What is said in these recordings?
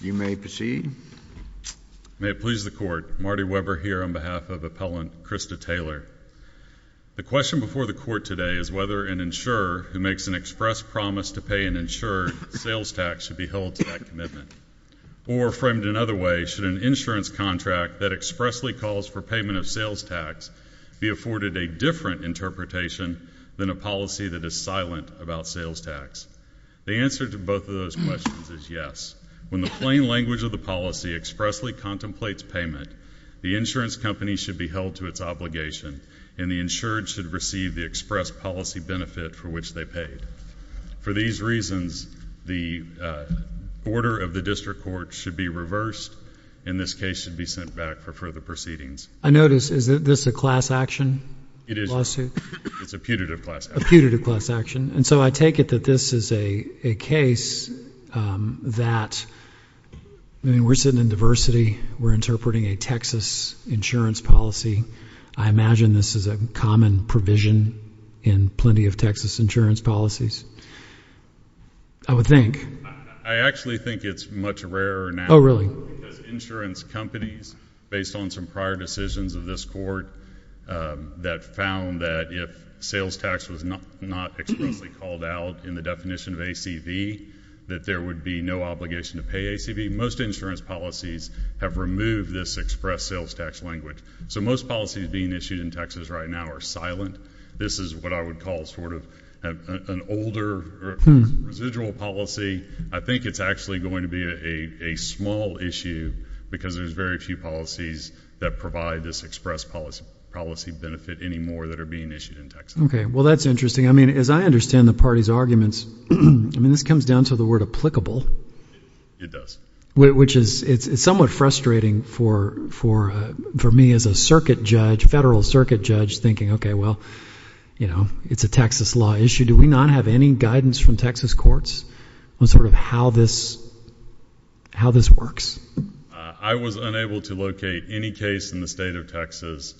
You may proceed. May it please the Court, Marty Weber here on behalf of Appellant Krista Taylor. The question before the Court today is whether an insurer who makes an express promise to pay an insurer sales tax should be held to that commitment. Or framed another way, should an insurance contract that expressly calls for payment of sales tax be afforded a different interpretation than a policy that is silent about sales tax? The answer to both of those questions is yes. When the plain language of the policy expressly contemplates payment, the insurance company should be held to its obligation, and the insured should receive the express policy benefit for which they paid. For these reasons, the order of the District Court should be reversed, and this case should be sent back for further proceedings. I notice, is this a class action lawsuit? It's a putative class action. A putative class action. And so I take it that this is a case that, I mean, we're sitting in diversity, we're interpreting a Texas insurance policy. I imagine this is a common provision in plenty of Texas insurance policies, I would think. I actually think it's much rarer now because insurance companies, based on some prior decisions of this Court, that found that if sales tax was not expressly called out in the definition of ACV, that there would be no obligation to pay ACV. Most insurance policies have removed this express sales tax language. So most policies being issued in Texas right now are silent. This is what I would call sort of an older residual policy. I think it's actually going to be a small issue because there's very few policies that provide this express policy benefit anymore that are being issued in Texas. Okay. Well, that's interesting. I mean, as I understand the party's arguments, I mean, this comes down to the word applicable. It does. Which is, it's somewhat frustrating for me as a circuit judge, federal circuit judge, thinking, okay, well, you know, it's a Texas law issue. Do we not have any guidance from Texas courts on sort of how this works? I was unable to locate any case in the state of Texas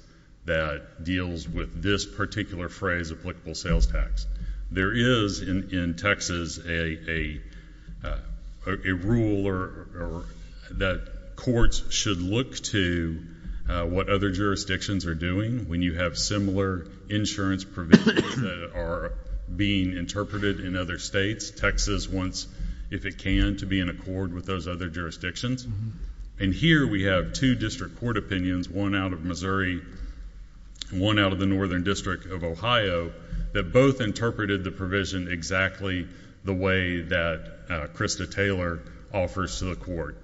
that deals with this particular phrase applicable sales tax. There is in Texas a rule that courts should look to what other jurisdictions are doing when you have similar insurance provisions that are being interpreted in other states. Texas wants, if it can, to be in accord with those other jurisdictions. And here we have two district court opinions, one out of Missouri and one out of the Northern District of Ohio, that both interpreted the provision exactly the way that Krista Taylor offers to the court.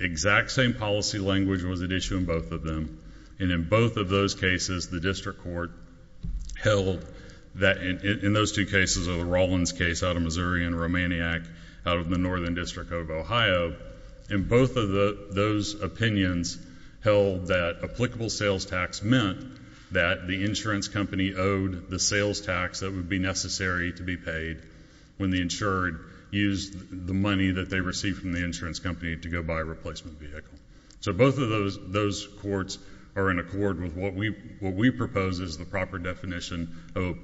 Exact same policy language was at issue in both of them, and in both of those cases, the district court held that... in those two cases, the Rollins case out of Missouri and Romaniac out of the Northern District of Ohio, in both of those opinions held that applicable sales tax meant that the insurance company owed the sales tax that would be necessary to be paid when the insured used the money that they received from the insurance company to go buy a replacement vehicle. So both of those courts are in accord with what we propose as the proper definition of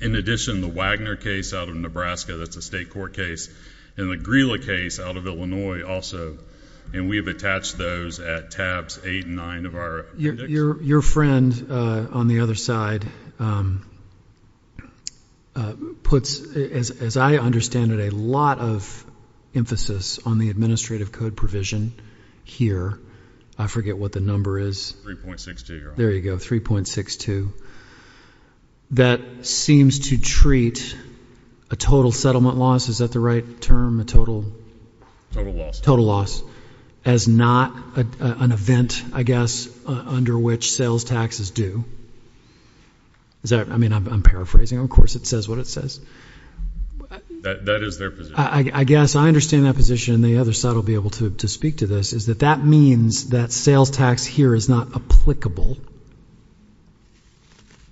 In addition, the Wagner case out of Nebraska, that's a state court case, and the Grilla case out of Illinois also, and we have attached those at tabs 8 and 9 of our appendix. Your friend on the other side puts, as I understand it, a lot of emphasis on the administrative code provision here. I forget what the number is. 3.62. There you go, 3.62. That seems to treat a total settlement loss. Is that the right term? Total loss. Total loss. As not an event, I guess, under which sales tax is due. Is that... I mean, I'm paraphrasing, of course it says what it says. That is their position. I guess I understand that position, and the other side will be able to speak to this, is that that means that sales tax here is not applicable.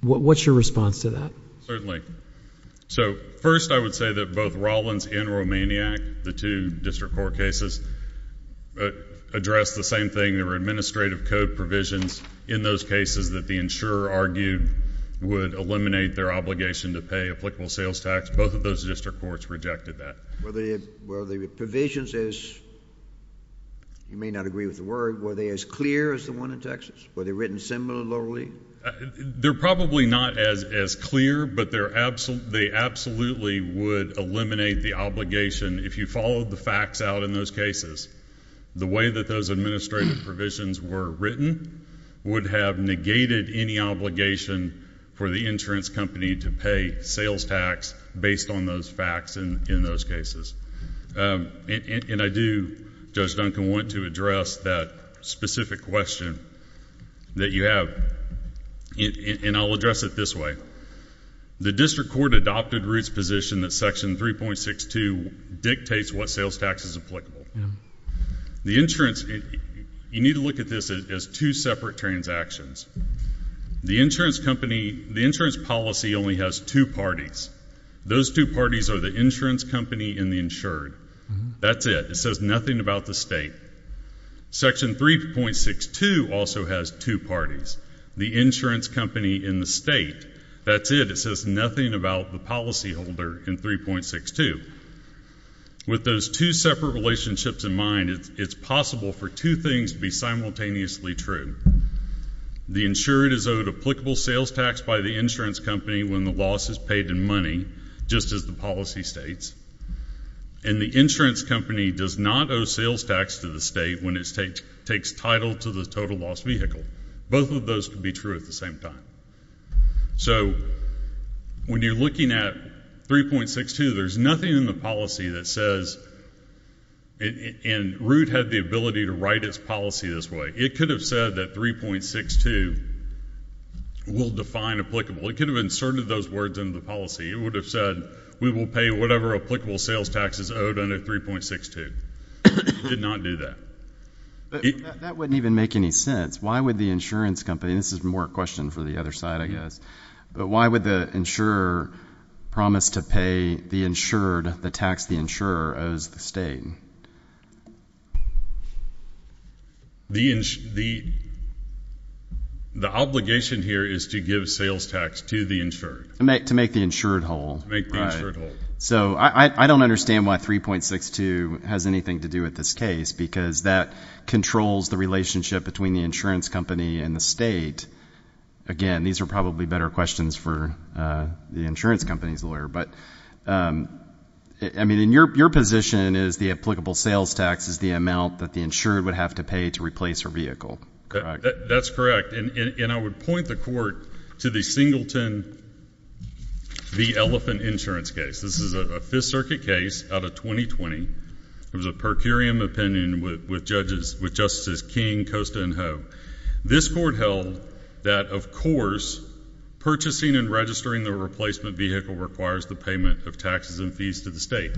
What's your response to that? Certainly. First, I would say that both Rollins and Romaniak, the two district court cases, addressed the same thing. There were administrative code provisions in those cases that the insurer argued would eliminate their obligation to pay applicable sales tax. Both of those district courts rejected that. Were the provisions, as you may not agree with the word, were they as clear as the one in Texas? Were they written similarly? They're probably not as clear, but they absolutely would eliminate the obligation. If you followed the facts out in those cases, the way that those administrative provisions were written would have negated any obligation for the insurance company to pay sales tax based on those facts in those cases. And I do, Judge Duncan, want to address that specific question that you have, and I'll address it this way. The district court adopted Root's position that Section 3.62 dictates what sales tax is applicable. The insurance, you need to look at this as two separate transactions. The insurance company, the insurance policy only has two parties. Those two parties are the insurance company and the insured. That's it. It says nothing about the state. Section 3.62 also has two parties. The insurance company and the state. That's it. It says nothing about the policyholder in 3.62. With those two separate relationships in mind, it's possible for two things to be simultaneously true. The insured is owed applicable sales tax by the insurance company when the loss is paid in money, just as the policy states, and the insurance company does not owe sales tax to the state when it takes title to the total loss vehicle. Both of those could be true at the same time. So when you're looking at 3.62, there's nothing in the policy that says, and Root had the ability to write its policy this way. It could have said that 3.62 will define applicable. It could have inserted those words into the policy. It would have said, we will pay whatever applicable sales tax is owed under 3.62. It did not do that. That wouldn't even make any sense. Why would the insurance company, and this is more a question for the other side, I guess, but why would the insurer promise to pay the insured the tax the insurer owes the state? The obligation here is to give sales tax to the insured. To make the insured whole. To make the insured whole. So I don't understand why 3.62 has anything to do with this case, because that controls the relationship between the insurance company and the state. Again, these are probably better questions for the insurance company's lawyer. But, I mean, in your position is the applicable sales tax is the amount that the insured would have to pay to replace her vehicle, correct? That's correct. And I would point the court to the Singleton v. Elephant insurance case. This is a Fifth Circuit case out of 2020. It was a per curiam opinion with judges, with Justices King, Costa, and Ho. This court held that, of course, purchasing and registering the replacement vehicle requires the payment of taxes and fees to the state.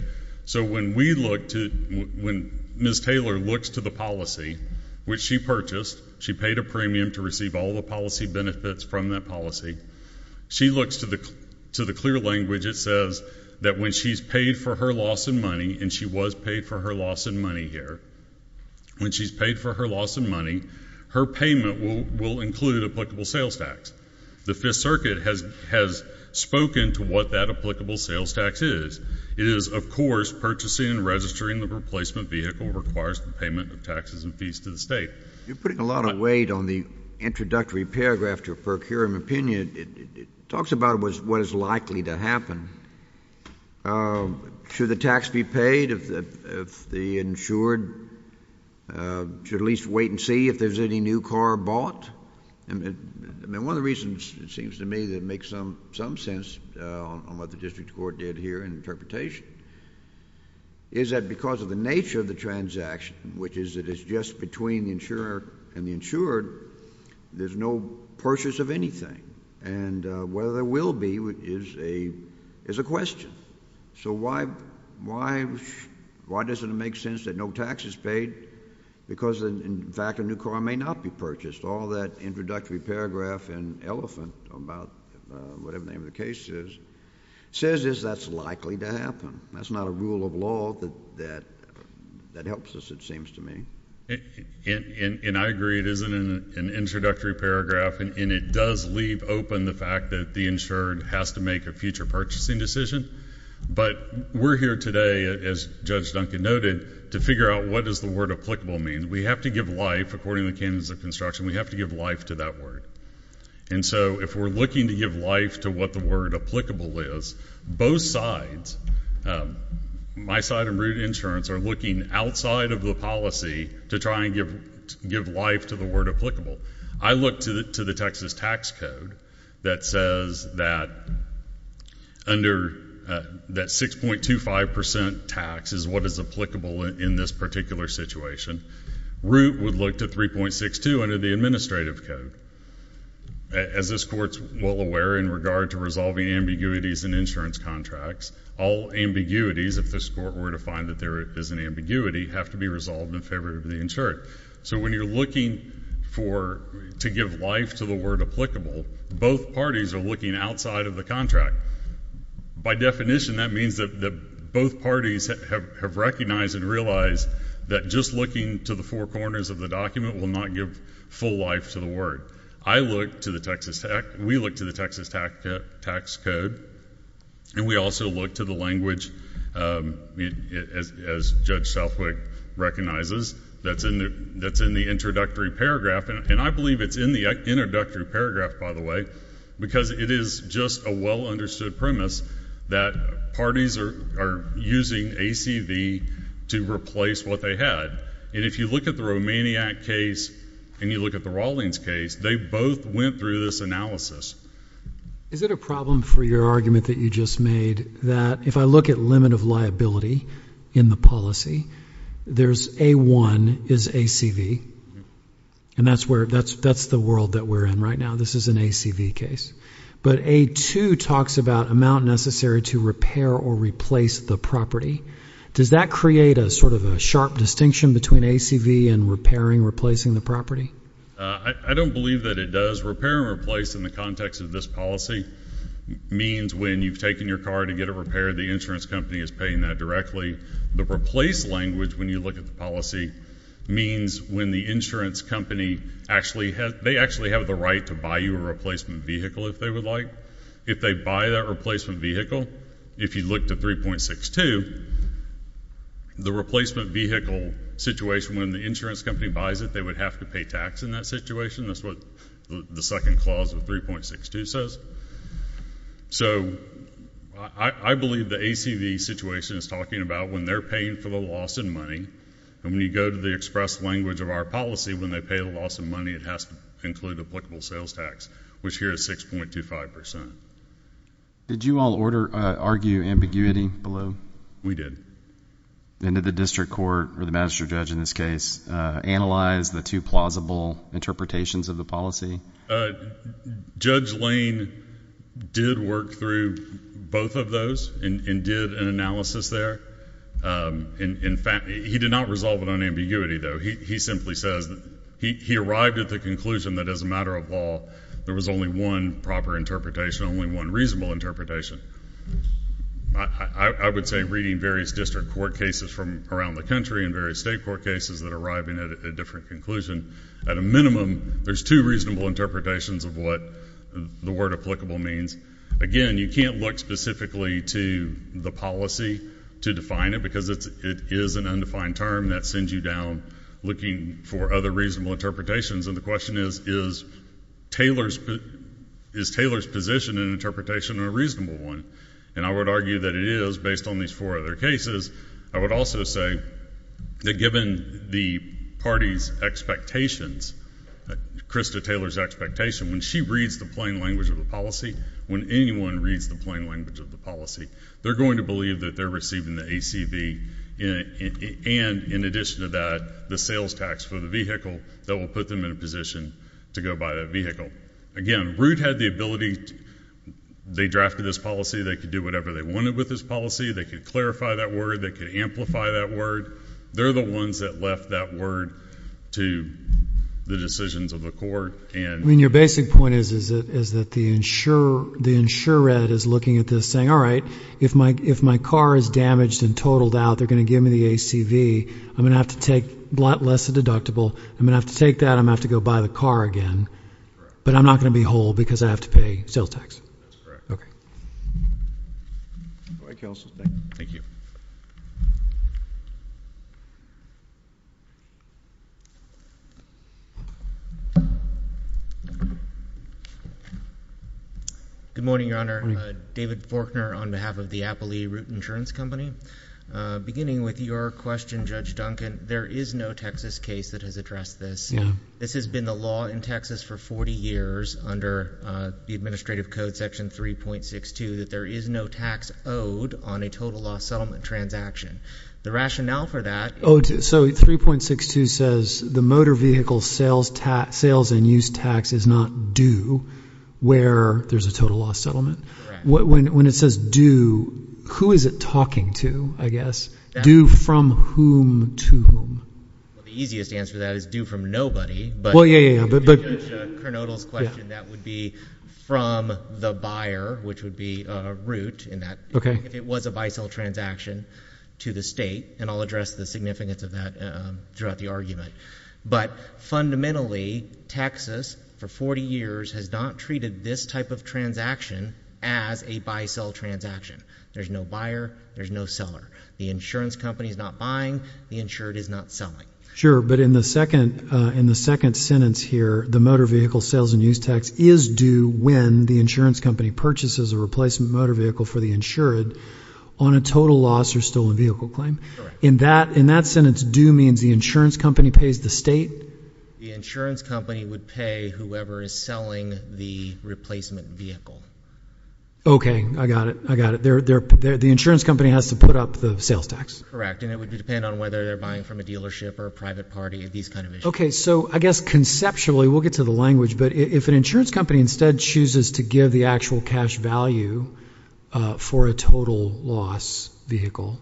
So when we look to, when Ms. Taylor looks to the policy, which she purchased, she paid a premium to receive all the policy benefits from that policy, she looks to the clear language it says that when she's paid for her loss in money, and she was paid for her loss in money here, when she's paid for her loss in money, her payment will include applicable sales tax. The Fifth Circuit has spoken to what that applicable sales tax is. It is, of course, purchasing and registering the replacement vehicle requires the payment of taxes and fees to the state. You're putting a lot of weight on the introductory paragraph to a per curiam opinion. It talks about what is likely to happen. Should the tax be paid if the insured should at least wait and see if there's any new car bought? I mean, one of the reasons, it seems to me, that it makes some sense on what the district court did here in interpretation is that because of the nature of the transaction, which is that it's just between the insurer and the insured, there's no purchase of anything. And whether there will be is a question. So why doesn't it make sense that no tax is paid because, in fact, a new car may not be purchased? All that introductory paragraph and elephant about whatever the name of the case is, says is that's likely to happen. That's not a rule of law that helps us, it seems to me. And I agree, it isn't an introductory paragraph, and it does leave open the fact that the insured has to make a future purchasing decision, but we're here today, as Judge Duncan noted, to figure out what does the word applicable mean. We have to give life, according to the Candidates of Construction, we have to give life to that word. And so if we're looking to give life to what the word applicable is, both sides, my side and Root Insurance, are looking outside of the policy to try and give life to the word applicable. I look to the Texas tax code that says that under that 6.25% tax is what is applicable in this particular situation. Root would look to 3.62 under the administrative code. As this Court's well aware in regard to resolving ambiguities in insurance contracts, all ambiguities, if this Court were to find that there is an ambiguity, have to be resolved in favor of the insured. So when you're looking to give life to the word applicable, both parties are looking outside of the contract. By definition, that means that both parties have recognized and realized that just looking to the four corners of the document will not give full life to the word. I look to the Texas, we look to the Texas tax code, and we also look to the language, as Judge Southwick recognizes, that's in the introductory paragraph, and I believe it's in the introductory paragraph, by the way, because it is just a well understood premise that parties are using ACV to replace what they had. And if you look at the Romaniak case and you look at the Rawlings case, they both went through this analysis. Is it a problem for your argument that you just made that if I look at limit of liability in the policy, there's A-1 is ACV, and that's the world that we're in right now. This is an ACV case. But A-2 talks about amount necessary to repair or replace the property. Does that create a sort of a sharp distinction between ACV and repairing, replacing the property? I don't believe that it does. Repair and replace in the context of this policy means when you've taken your car to get it repaired, the insurance company is paying that directly. The replace language, when you look at the policy, means when the insurance company actually has, they actually have the right to buy you a replacement vehicle if they would like. If they buy that replacement vehicle, if you look to 3.62, the replacement vehicle situation, when the insurance company buys it, they would have to pay tax in that situation. That's what the second clause of 3.62 says. So, I believe the ACV situation is talking about when they're paying for the loss in money, and when you go to the express language of our policy, when they pay the loss in money, it has to include applicable sales tax, which here is 6.25%. Did you all argue ambiguity below? We did. And did the district court, or the magistrate judge in this case, analyze the two plausible interpretations of the policy? Judge Lane did work through both of those and did an analysis there. In fact, he did not resolve it on ambiguity though. He simply says, he arrived at the conclusion that as a matter of law, there was only one proper interpretation, only one reasonable interpretation. I would say reading various district court cases from around the country and various state court cases that are arriving at a different conclusion, at a minimum, there's two reasonable interpretations of what the word applicable means. Again, you can't look specifically to the policy to define it, because it is an undefined term that sends you down looking for other reasonable interpretations, and the question is, is Taylor's position and interpretation a reasonable one? And I would argue that it is, based on these four other cases. I would also say that given the party's expectations, Krista Taylor's expectation, when she reads the plain language of the policy, when anyone reads the plain language of the policy, they're going to believe that they're receiving the ACB, and in addition to that, the sales tax for the vehicle that will put them in a position to go buy that vehicle. Again, Root had the ability, they drafted this policy, they could do whatever they wanted with this policy, they could clarify that word, they could amplify that word. They're the ones that left that word to the decisions of the court, and- I mean, your basic point is that the insured is looking at this saying, all right, if my car is damaged and totaled out, they're going to give me the ACB, I'm going to have to take a lot less deductible, I'm going to have to take that, I'm going to have to go buy the car again, but I'm not going to be whole because I have to pay sales tax. That's correct. Okay. Thank you. Go ahead, Counsel. Thank you. Good morning, Your Honor. David Forkner on behalf of the Applee Root Insurance Company. Beginning with your question, Judge Duncan, there is no Texas case that has addressed this. No. This has been the law in Texas for 40 years under the Administrative Code Section 3.62 that there is no tax owed on a total loss settlement transaction. The rationale for that- So 3.62 says the motor vehicle sales and use tax is not due where there's a total loss settlement. Correct. When it says due, who is it talking to, I guess? Due from whom to whom? Well, the easiest answer to that is due from nobody, but- Well, yeah, yeah, yeah. But- In Judge Kernodle's question, that would be from the buyer, which would be a root in that. Okay. If it was a buy-sell transaction to the state, and I'll address the significance of that throughout the argument. But fundamentally, Texas for 40 years has not treated this type of transaction as a buy-sell transaction. There's no buyer, there's no seller. The insurance company is not buying, the insured is not selling. Sure, but in the second sentence here, the motor vehicle sales and use tax is due when the insurance company purchases a replacement motor vehicle for the insured on a total loss or stolen vehicle claim. In that sentence, due means the insurance company pays the state? The insurance company would pay whoever is selling the replacement vehicle. Okay, I got it, I got it. The insurance company has to put up the sales tax? Correct, and it would depend on whether they're buying from a dealership or a private party, these kind of issues. Okay, so I guess conceptually, we'll get to the language, but if an insurance company instead chooses to give the actual cash value for a total loss vehicle,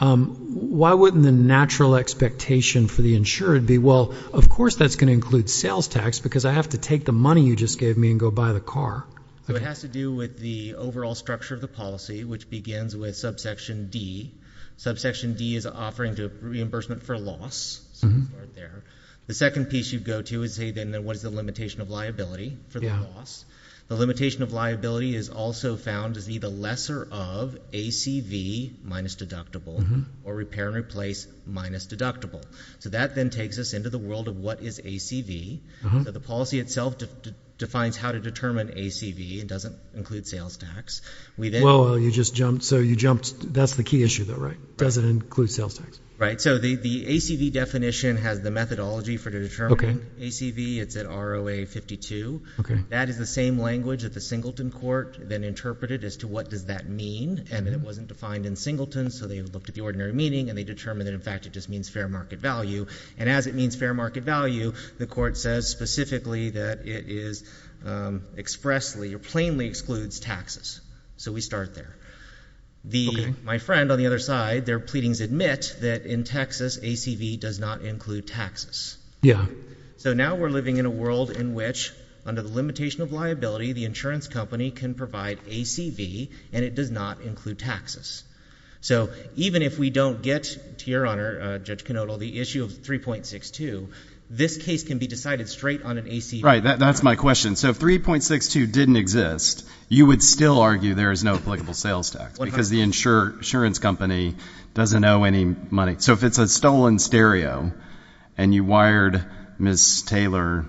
why wouldn't the natural expectation for the insured be, well, of course that's going to include sales tax because I have to take the money you just gave me and go buy the car? It has to do with the overall structure of the policy, which begins with subsection D. Subsection D is offering reimbursement for loss. The second piece you go to is what is the limitation of liability for the loss? The limitation of liability is also found to be the lesser of ACV minus deductible or repair and replace minus deductible. That then takes us into the world of what is ACV. The policy itself defines how to determine ACV. It doesn't include sales tax. Well, you just jumped, so you jumped, that's the key issue though, right? Does it include sales tax? Right, so the ACV definition has the methodology for determining ACV. It's at ROA 52. That is the same language that the Singleton Court then interpreted as to what does that mean and that it wasn't defined in Singleton, so they looked at the ordinary meaning and they determined that in fact it just means fair market value. And as it means fair market value, the court says specifically that it is expressly or plainly excludes taxes. So we start there. My friend on the other side, their pleadings admit that in Texas, ACV does not include taxes. Yeah. So now we're living in a world in which under the limitation of liability, the insurance company can provide ACV and it does not include taxes. So even if we don't get, to your honor, Judge Knodel, the issue of 3.62, this case can be decided straight on an ACV. Right, that's my question. So if 3.62 didn't exist, you would still argue there is no applicable sales tax because the insurance company doesn't owe any money. So if it's a stolen stereo and you wired Ms. Taylor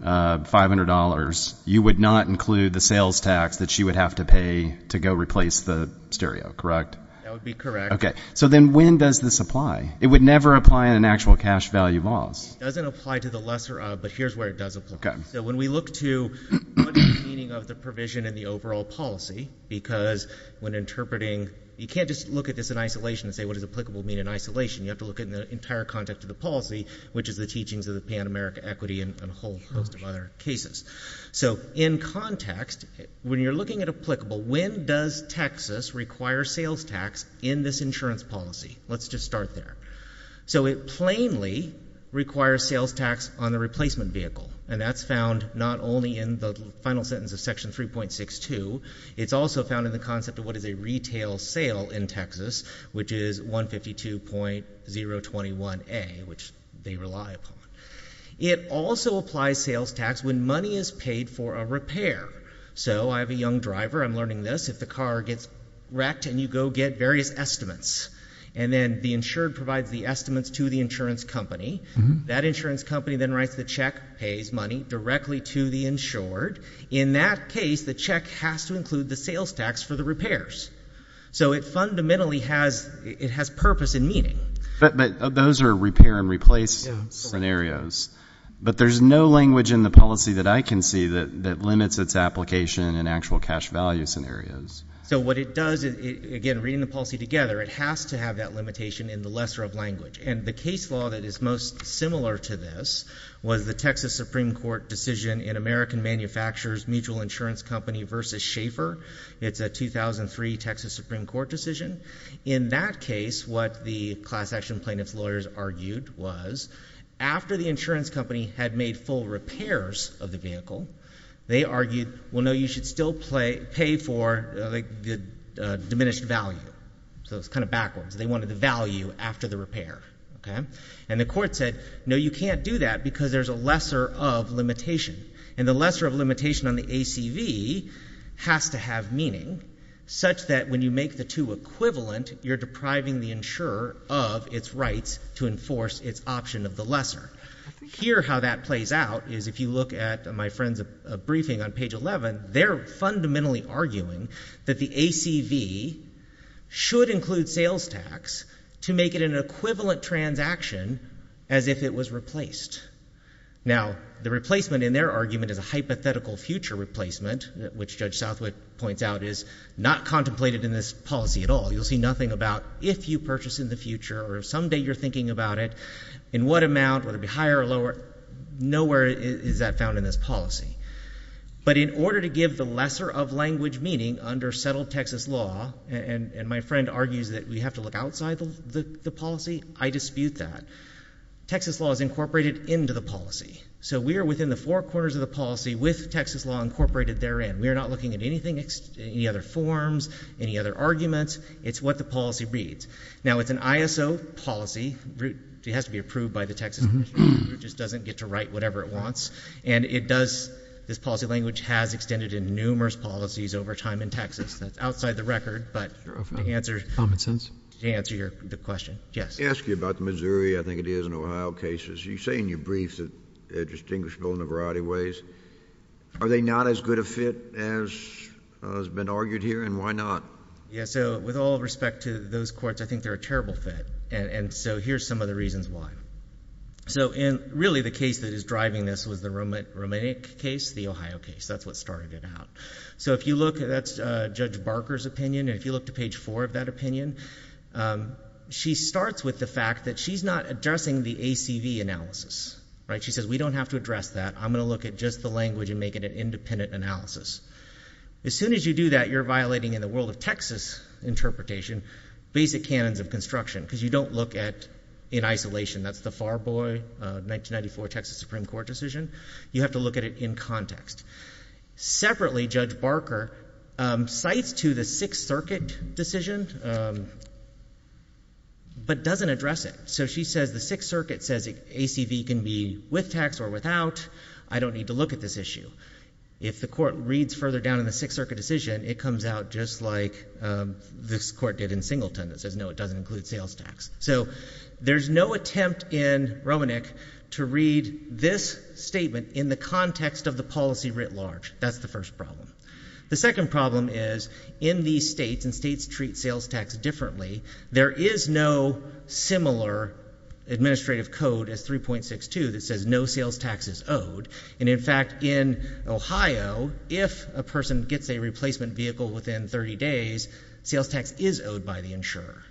$500, you would not include the sales tax that she would have to pay to go replace the stereo, correct? That would be correct. Okay. So then when does this apply? It would never apply in an actual cash value loss. It doesn't apply to the lesser of, but here's where it does apply. Okay. So when we look to what is the meaning of the provision in the overall policy, because when interpreting, you can't just look at this in isolation and say what does applicable mean in isolation. You have to look at the entire context of the policy, which is the teachings of the Pan-American equity and a whole host of other cases. So in context, when you're looking at applicable, when does Texas require sales tax in this insurance policy? Let's just start there. So it plainly requires sales tax on the replacement vehicle, and that's found not only in the final sentence of section 3.62. It's also found in the concept of what is a retail sale in Texas, which is 152.021A, which they rely upon. It also applies sales tax when money is paid for a repair. So I have a young driver. I'm learning this. If the car gets wrecked and you go get various estimates, and then the insured provides the estimates to the insurance company, that insurance company then writes the check, pays money directly to the insured. In that case, the check has to include the sales tax for the repairs. So it fundamentally has, it has purpose and meaning. But those are repair and replace scenarios. But there's no language in the policy that I can see that limits its application in actual cash value scenarios. So what it does, again, reading the policy together, it has to have that limitation in the lesser of language. And the case law that is most similar to this was the Texas Supreme Court decision in American Manufacturers Mutual Insurance Company v. Schaeffer. It's a 2003 Texas Supreme Court decision. In that case, what the class action plaintiff's lawyers argued was, after the insurance company had made full repairs of the vehicle, they argued, well, no, you should still pay for the diminished value. So it's kind of backwards. They wanted the value after the repair. And the court said, no, you can't do that because there's a lesser of limitation. And the lesser of limitation on the ACV has to have meaning, such that when you make the two equivalent, you're depriving the insurer of its rights to enforce its option of the lesser. Here how that plays out is if you look at my friend's briefing on page 11, they're fundamentally arguing that the ACV should include sales tax to make it an equivalent transaction as if it was replaced. Now the replacement in their argument is a hypothetical future replacement, which Judge Schaeffer contemplated in this policy at all. You'll see nothing about if you purchase in the future or if someday you're thinking about it, in what amount, whether it be higher or lower, nowhere is that found in this policy. But in order to give the lesser of language meaning under settled Texas law, and my friend argues that we have to look outside the policy, I dispute that. Texas law is incorporated into the policy. So we are within the four corners of the policy with Texas law incorporated therein. We are not looking at anything, any other forms, any other arguments. It's what the policy reads. Now it's an ISO policy. It has to be approved by the Texas Commissioner. It just doesn't get to write whatever it wants. And it does, this policy language has extended in numerous policies over time in Texas. That's outside the record, but to answer your question. I ask you about Missouri. I think it is in Ohio cases. You say in your briefs that they're distinguishable in a variety of ways. Are they not as good a fit as has been argued here, and why not? Yeah, so with all respect to those courts, I think they're a terrible fit. And so here's some of the reasons why. So in really the case that is driving this was the Romanic case, the Ohio case. That's what started it out. So if you look, that's Judge Barker's opinion, and if you look to page four of that opinion, she starts with the fact that she's not addressing the ACV analysis, right? She says we don't have to address that. I'm going to look at just the language and make it an independent analysis. As soon as you do that, you're violating, in the world of Texas interpretation, basic canons of construction. because you don't look at, in isolation, that's the Farboy 1994 Texas Supreme Court decision. You have to look at it in context. Separately, Judge Barker cites to the Sixth Circuit decision, but doesn't address it. So she says the Sixth Circuit says ACV can be with tax or without. I don't need to look at this issue. If the court reads further down in the Sixth Circuit decision, it comes out just like this court did in Singleton that says no, it doesn't include sales tax. So there's no attempt in Romanic to read this statement in the context of the policy writ large. That's the first problem. The second problem is in these states, and states treat sales tax differently, there is no similar administrative code as 3.62 that says no sales tax is owed. And in fact, in Ohio, if a person gets a replacement vehicle within 30 days, sales tax is owed by the insurer.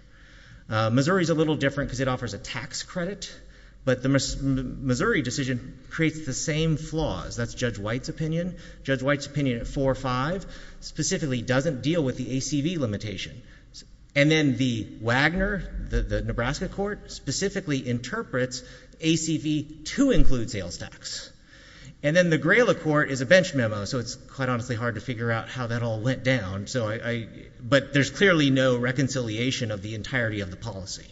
Missouri's a little different because it offers a tax credit. But the Missouri decision creates the same flaws. That's Judge White's opinion. Judge White's opinion at 4-5 specifically doesn't deal with the ACV limitation. And then the Wagner, the Nebraska court, specifically interprets ACV to include sales tax. And then the Grayla court is a bench memo, so it's quite honestly hard to figure out how that all went down. So I, but there's clearly no reconciliation of the entirety of the policy.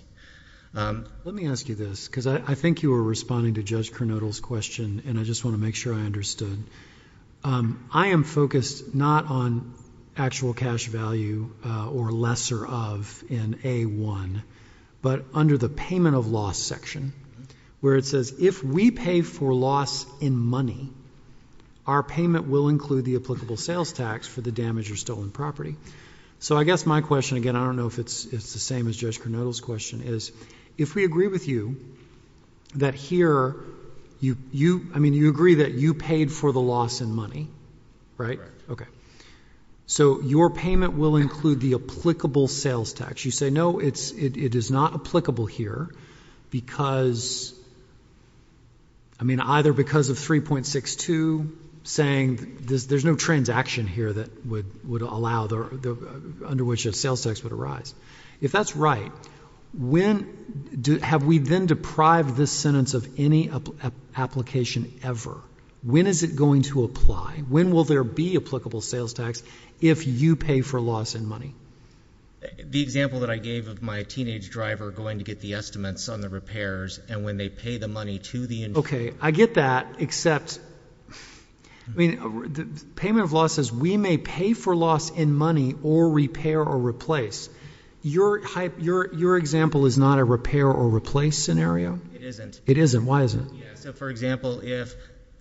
Let me ask you this, because I think you were responding to Judge Kernodle's question, and I just want to make sure I understood. I am focused not on actual cash value or lesser of in A1, but under the payment of loss section, where it says if we pay for loss in money, our payment will include the applicable sales tax for the damaged or stolen property. So I guess my question, again, I don't know if it's the same as Judge Kernodle's question, is if we agree with you that here, I mean, you agree that you paid for the loss in money, right? So your payment will include the applicable sales tax. You say no, it is not applicable here because, I mean, either because of 3.62 saying there's no transaction here that would allow, under which a sales tax would arise. If that's right, have we then deprived this sentence of any application ever? When is it going to apply? When will there be applicable sales tax if you pay for loss in money? The example that I gave of my teenage driver going to get the estimates on the repairs, and when they pay the money to the- Okay, I get that, except, I mean, payment of loss says we may pay for loss in money or repair or replace. Your example is not a repair or replace scenario? It isn't. It isn't, why is it? Yeah, so for example, if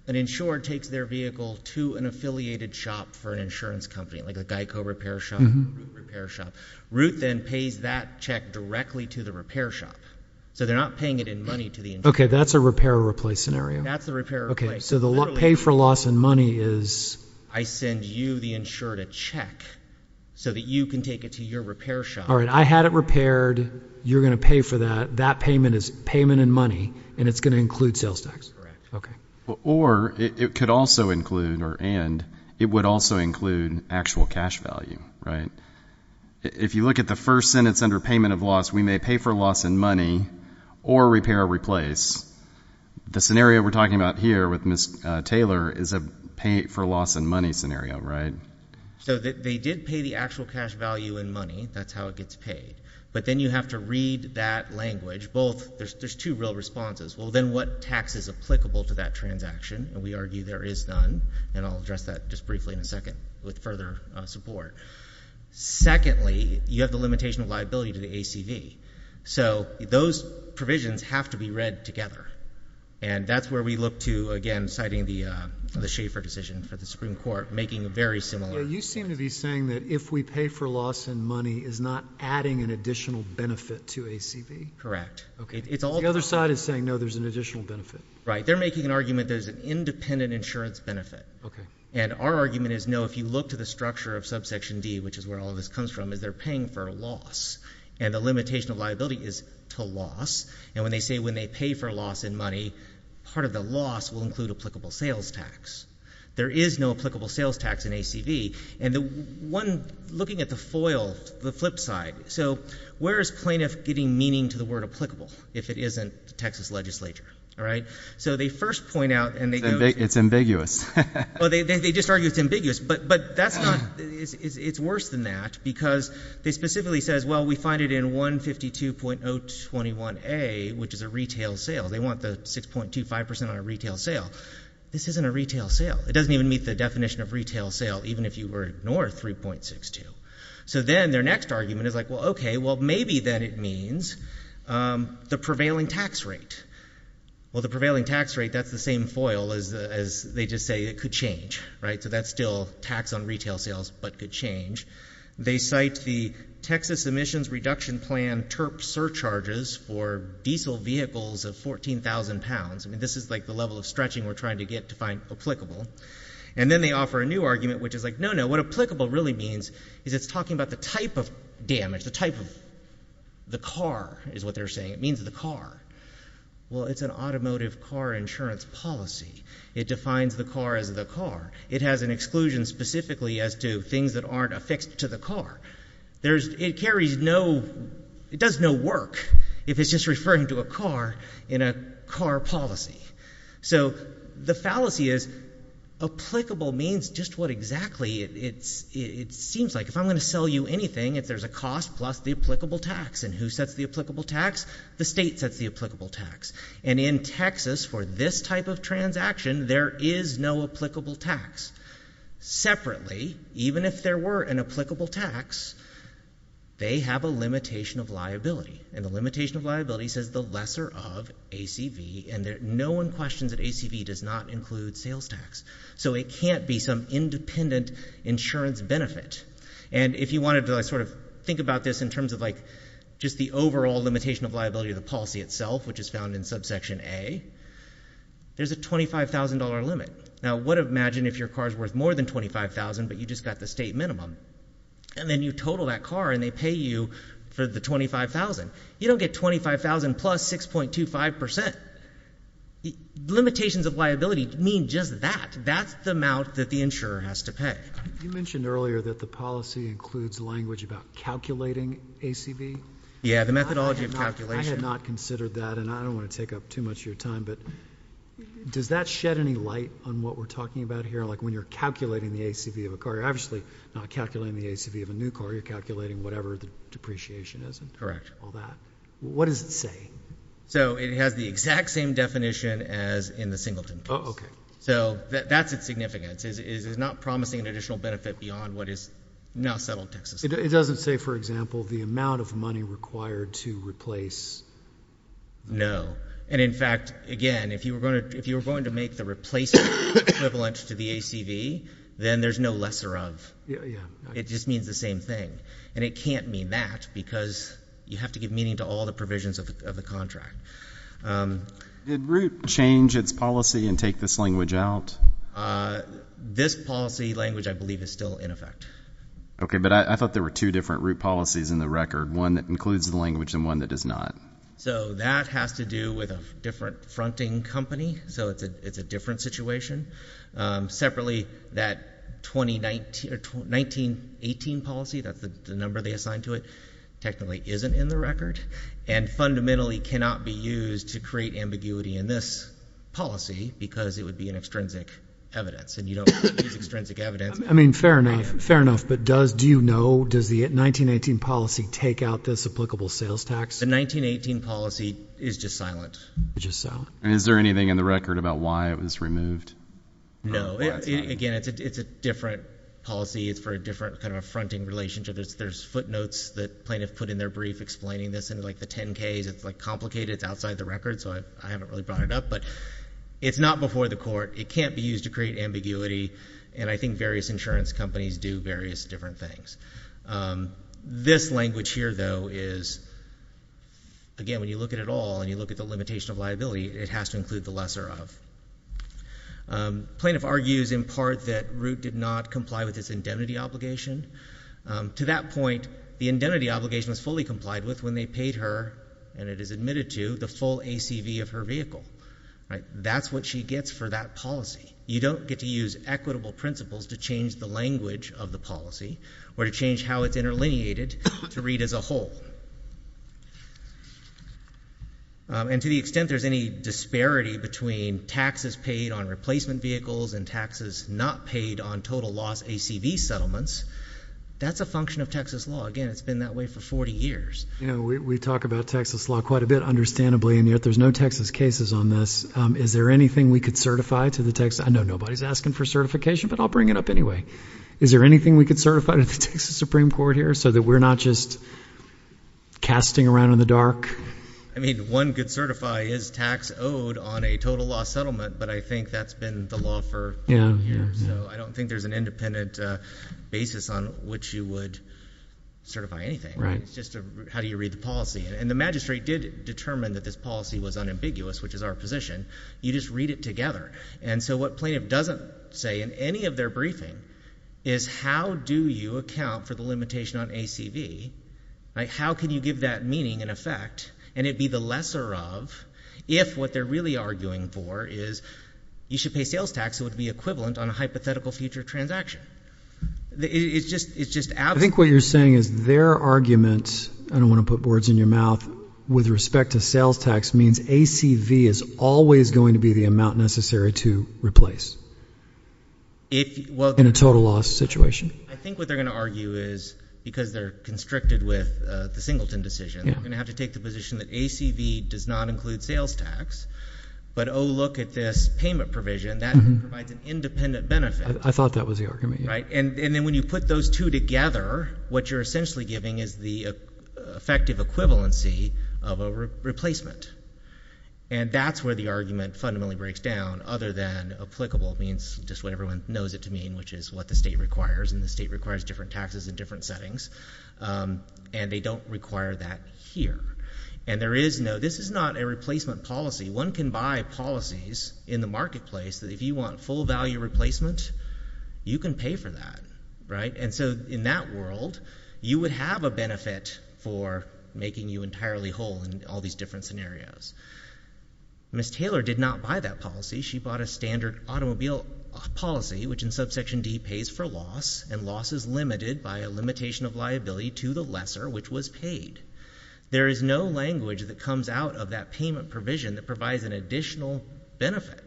an insurer takes their vehicle to an affiliated shop for an insurance company, like a Geico repair shop, Root repair shop, Root then pays that check directly to the repair shop. So they're not paying it in money to the insurer. Okay, that's a repair or replace scenario. That's a repair or replace. Okay, so the pay for loss in money is- I send you, the insurer, a check so that you can take it to your repair shop. All right, I had it repaired. You're going to pay for that. That payment is payment in money, and it's going to include sales tax. Or, it could also include, or and, it would also include actual cash value, right? If you look at the first sentence under payment of loss, we may pay for loss in money or repair or replace. The scenario we're talking about here with Ms. Taylor is a pay for loss in money scenario, right? So they did pay the actual cash value in money, that's how it gets paid. But then you have to read that language, both, there's two real responses. Well, then what tax is applicable to that transaction? And we argue there is none, and I'll address that just briefly in a second with further support. Secondly, you have the limitation of liability to the ACV. So those provisions have to be read together. And that's where we look to, again, citing the Schaefer decision for the Supreme Court, making a very similar- You seem to be saying that if we pay for loss in money, is not adding an additional benefit to ACV? Correct. Okay, it's all- The other side is saying, no, there's an additional benefit. Right, they're making an argument there's an independent insurance benefit. Okay. And our argument is no, if you look to the structure of subsection D, which is where all of this comes from, is they're paying for loss. And the limitation of liability is to loss, and when they say when they pay for loss in money, part of the loss will include applicable sales tax. There is no applicable sales tax in ACV, and the one, looking at the foil, the flip side. So where is plaintiff getting meaning to the word applicable if it isn't the Texas legislature, all right? So they first point out, and they go- It's ambiguous. Well, they just argue it's ambiguous, but that's not, it's worse than that, because they specifically says, well, we find it in 152.021A, which is a retail sale. They want the 6.25% on a retail sale. This isn't a retail sale. It doesn't even meet the definition of retail sale, even if you were north 3.62. So then their next argument is like, well, okay, well, maybe then it means the prevailing tax rate. Well, the prevailing tax rate, that's the same foil as they just say it could change, right? So that's still tax on retail sales, but could change. They cite the Texas Emissions Reduction Plan TURP surcharges for diesel vehicles of 14,000 pounds. I mean, this is like the level of stretching we're trying to get to find applicable. And then they offer a new argument, which is like, no, no, what applicable really means is it's talking about the type of damage, the type of the car is what they're saying. It means the car. Well, it's an automotive car insurance policy. It defines the car as the car. It has an exclusion specifically as to things that aren't affixed to the car. There's, it carries no, it does no work if it's just referring to a car in a car policy. So the fallacy is applicable means just what exactly it seems like. If I'm going to sell you anything, if there's a cost plus the applicable tax. And who sets the applicable tax? The state sets the applicable tax. And in Texas, for this type of transaction, there is no applicable tax. Separately, even if there were an applicable tax, they have a limitation of liability. And the limitation of liability says the lesser of ACV, and no one questions that ACV does not include sales tax. So it can't be some independent insurance benefit. And if you wanted to sort of think about this in terms of like, just the overall limitation of liability of the policy itself, which is found in subsection A, there's a $25,000 limit. Now, what if, imagine if your car's worth more than $25,000, but you just got the state minimum. And then you total that car, and they pay you for the $25,000. You don't get $25,000 plus 6.25%. Limitations of liability mean just that. That's the amount that the insurer has to pay. You mentioned earlier that the policy includes language about calculating ACV. Yeah, the methodology of calculation. I had not considered that, and I don't want to take up too much of your time. But does that shed any light on what we're talking about here? Like when you're calculating the ACV of a car, you're obviously not calculating the ACV of a new car. You're calculating whatever the depreciation is and all that. What does it say? So it has the exact same definition as in the Singleton case. Okay. So that's its significance. It is not promising an additional benefit beyond what is now settled taxes. It doesn't say, for example, the amount of money required to replace. No. And in fact, again, if you were going to make the replacement equivalent to the ACV, then there's no lesser of. Yeah. It just means the same thing. And it can't mean that, because you have to give meaning to all the provisions of the contract. Did Root change its policy and take this language out? This policy language, I believe, is still in effect. Okay, but I thought there were two different Root policies in the record, one that includes the language and one that does not. So that has to do with a different fronting company. So it's a different situation. Separately, that 1918 policy, that's the number they assigned to it, technically isn't in the record. And fundamentally cannot be used to create ambiguity in this policy, because it would be an extrinsic evidence. And you don't use extrinsic evidence. I mean, fair enough, fair enough. But do you know, does the 1918 policy take out this applicable sales tax? The 1918 policy is just silent. Just silent. And is there anything in the record about why it was removed? No. Again, it's a different policy. It's for a different kind of a fronting relationship. There's footnotes that plaintiff put in their brief explaining this in like the 10-Ks. It's like complicated. It's outside the record, so I haven't really brought it up. But it's not before the court. It can't be used to create ambiguity. And I think various insurance companies do various different things. This language here, though, is, again, when you look at it all, and you look at the limitation of liability, it has to include the lesser of. Plaintiff argues, in part, that Root did not comply with its indemnity obligation. To that point, the indemnity obligation was fully complied with when they paid her, and it is admitted to, the full ACV of her vehicle. That's what she gets for that policy. You don't get to use equitable principles to change the language of the policy, or to change how it's interlineated to read as a whole. And to the extent there's any disparity between taxes paid on replacement vehicles and taxes not paid on total loss ACV settlements, that's a function of Texas law. Again, it's been that way for 40 years. You know, we talk about Texas law quite a bit, understandably, and yet there's no Texas cases on this. Is there anything we could certify to the Texas? I know nobody's asking for certification, but I'll bring it up anyway. Is there anything we could certify to the Texas Supreme Court here, so that we're not just casting around in the dark? I mean, one could certify his tax owed on a total loss settlement, but I think that's been the law for a long time here. So I don't think there's an independent basis on which you would certify anything. It's just how do you read the policy? And the magistrate did determine that this policy was unambiguous, which is our position. You just read it together. And so what plaintiff doesn't say in any of their briefing is how do you account for the limitation on ACV? How can you give that meaning and effect, and it be the lesser of, if what they're really arguing for is you should pay sales tax, it would be equivalent on a hypothetical future transaction. It's just out there. I think what you're saying is their argument, I don't want to put words in your mouth, with respect to sales tax means ACV is always going to be the amount necessary to replace in a total loss situation. I think what they're going to argue is, because they're constricted with the Singleton decision, they're going to have to take the position that ACV does not include sales tax. But oh, look at this payment provision, that provides an independent benefit. I thought that was the argument, yeah. Right, and then when you put those two together, what you're essentially giving is the effective equivalency of a replacement. And that's where the argument fundamentally breaks down, other than applicable means just what everyone knows it to mean, which is what the state requires, and the state requires different taxes in different settings. And they don't require that here. And there is no, this is not a replacement policy. One can buy policies in the marketplace that if you want full value replacement, you can pay for that, right? And so in that world, you would have a benefit for making you entirely whole in all these different scenarios. Ms. Taylor did not buy that policy. She bought a standard automobile policy, which in subsection D, pays for loss, and loss is limited by a limitation of liability to the lesser, which was paid. There is no language that comes out of that payment provision that provides an additional benefit.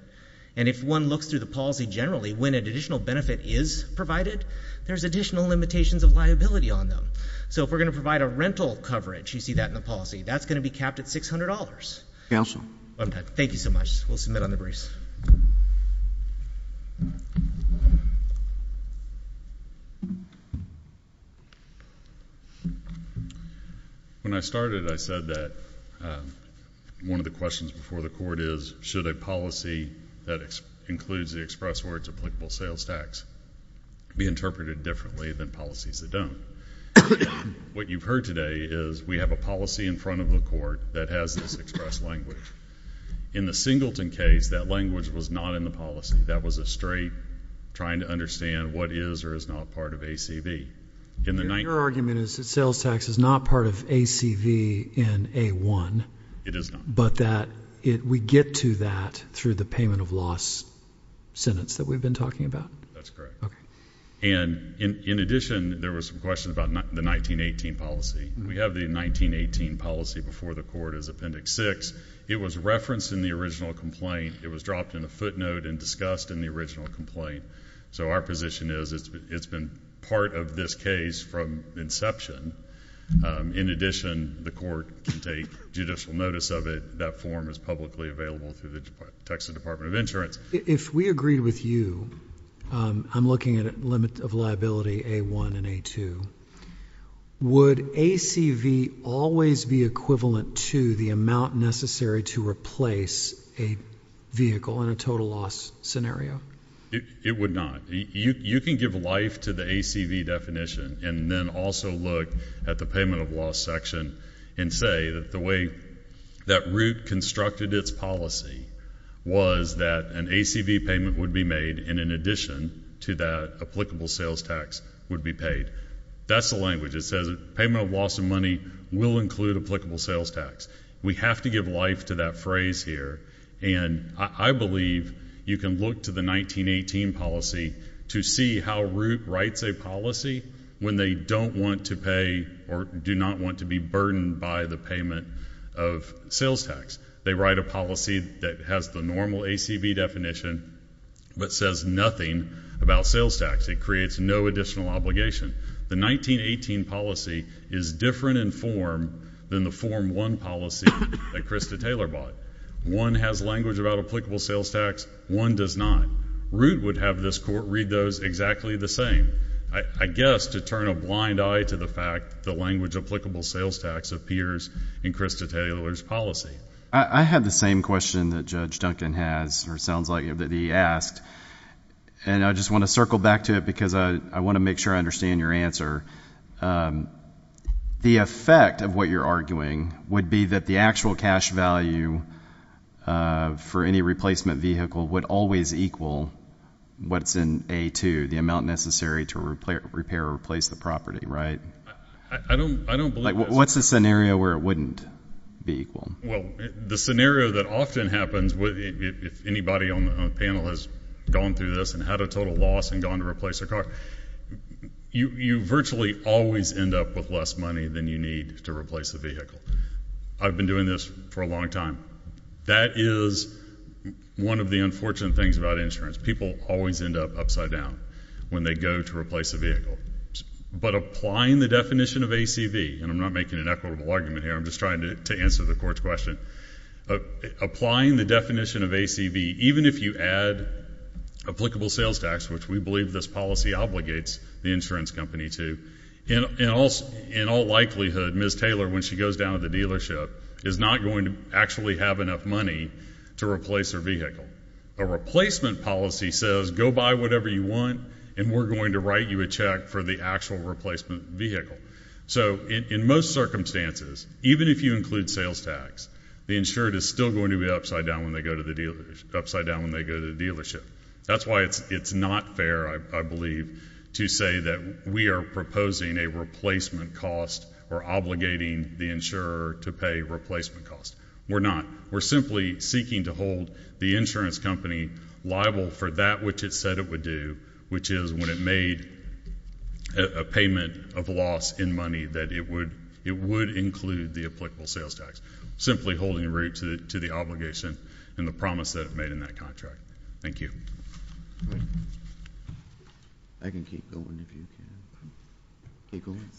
And if one looks through the policy generally, when an additional benefit is provided, there's additional limitations of liability on them. So if we're going to provide a rental coverage, you see that in the policy, that's going to be capped at $600. Thank you so much. We'll submit on the briefs. When I started, I said that one of the questions before the court is, should a policy that includes the express words applicable sales tax be interpreted differently than policies that don't? What you've heard today is we have a policy in front of the court that has this express language. In the Singleton case, that language was not in the policy. That was a straight trying to understand what is or is not part of ACV. Your argument is that sales tax is not part of ACV in A1, but that we get to that through the payment of loss sentence that we've been talking about? That's correct. And in addition, there was some questions about the 1918 policy. We have the 1918 policy before the court as Appendix 6. It was referenced in the original complaint. It was dropped in a footnote and discussed in the original complaint. So our position is it's been part of this case from inception. In addition, the court can take judicial notice of it. That form is publicly available through the Texas Department of Insurance. If we agreed with you, I'm looking at a limit of liability A1 and A2, would ACV always be equivalent to the amount necessary to replace a vehicle in a total loss scenario? It would not. You can give life to the ACV definition, and then also look at the payment of loss section and say that the way that route constructed its policy was that an ACV payment would be made, and in addition to that, applicable sales tax would be paid. That's the language. It says payment of loss of money will include applicable sales tax. We have to give life to that phrase here. And I believe you can look to the 1918 policy to see how route writes a policy when they don't want to pay or do not want to be burdened by the payment of sales tax. They write a policy that has the normal ACV definition, but says nothing about sales tax. It creates no additional obligation. The 1918 policy is different in form than the form one policy that Krista Taylor bought. One has language about applicable sales tax, one does not. Route would have this court read those exactly the same. I guess to turn a blind eye to the fact the language applicable sales tax appears in Krista Taylor's policy. I have the same question that Judge Duncan has, or sounds like, that he asked. And I just want to circle back to it because I want to make sure I understand your answer. The effect of what you're arguing would be that the actual cash value for any replacement vehicle would always equal what's in A2, the amount necessary to repair or replace the property, right? I don't believe that's true. What's the scenario where it wouldn't be equal? Well, the scenario that often happens, if anybody on the panel has gone through this and had a total loss and gone to replace a car, you virtually always end up with less money than you need to replace a vehicle. I've been doing this for a long time. That is one of the unfortunate things about insurance. People always end up upside down when they go to replace a vehicle. But applying the definition of ACV, and I'm not making an equitable argument here, I'm just trying to answer the court's question. Applying the definition of ACV, even if you add applicable sales tax, which we believe this policy obligates the insurance company to, in all likelihood, Ms. Taylor, when she goes down to the dealership, is not going to actually have enough money to replace her vehicle. A replacement policy says, go buy whatever you want, and we're going to write you a check for the actual replacement vehicle. So in most circumstances, even if you include sales tax, the insured is still going to be upside down when they go to the dealership. That's why it's not fair, I believe, to say that we are proposing a replacement cost or obligating the insurer to pay replacement cost. We're not. We're simply seeking to hold the insurance company liable for that which it said it would do, which is when it made a payment of loss in money, that it would include the applicable sales tax. Simply holding root to the obligation and the promise that it made in that contract. Thank you. I can keep going if you can. Keep going.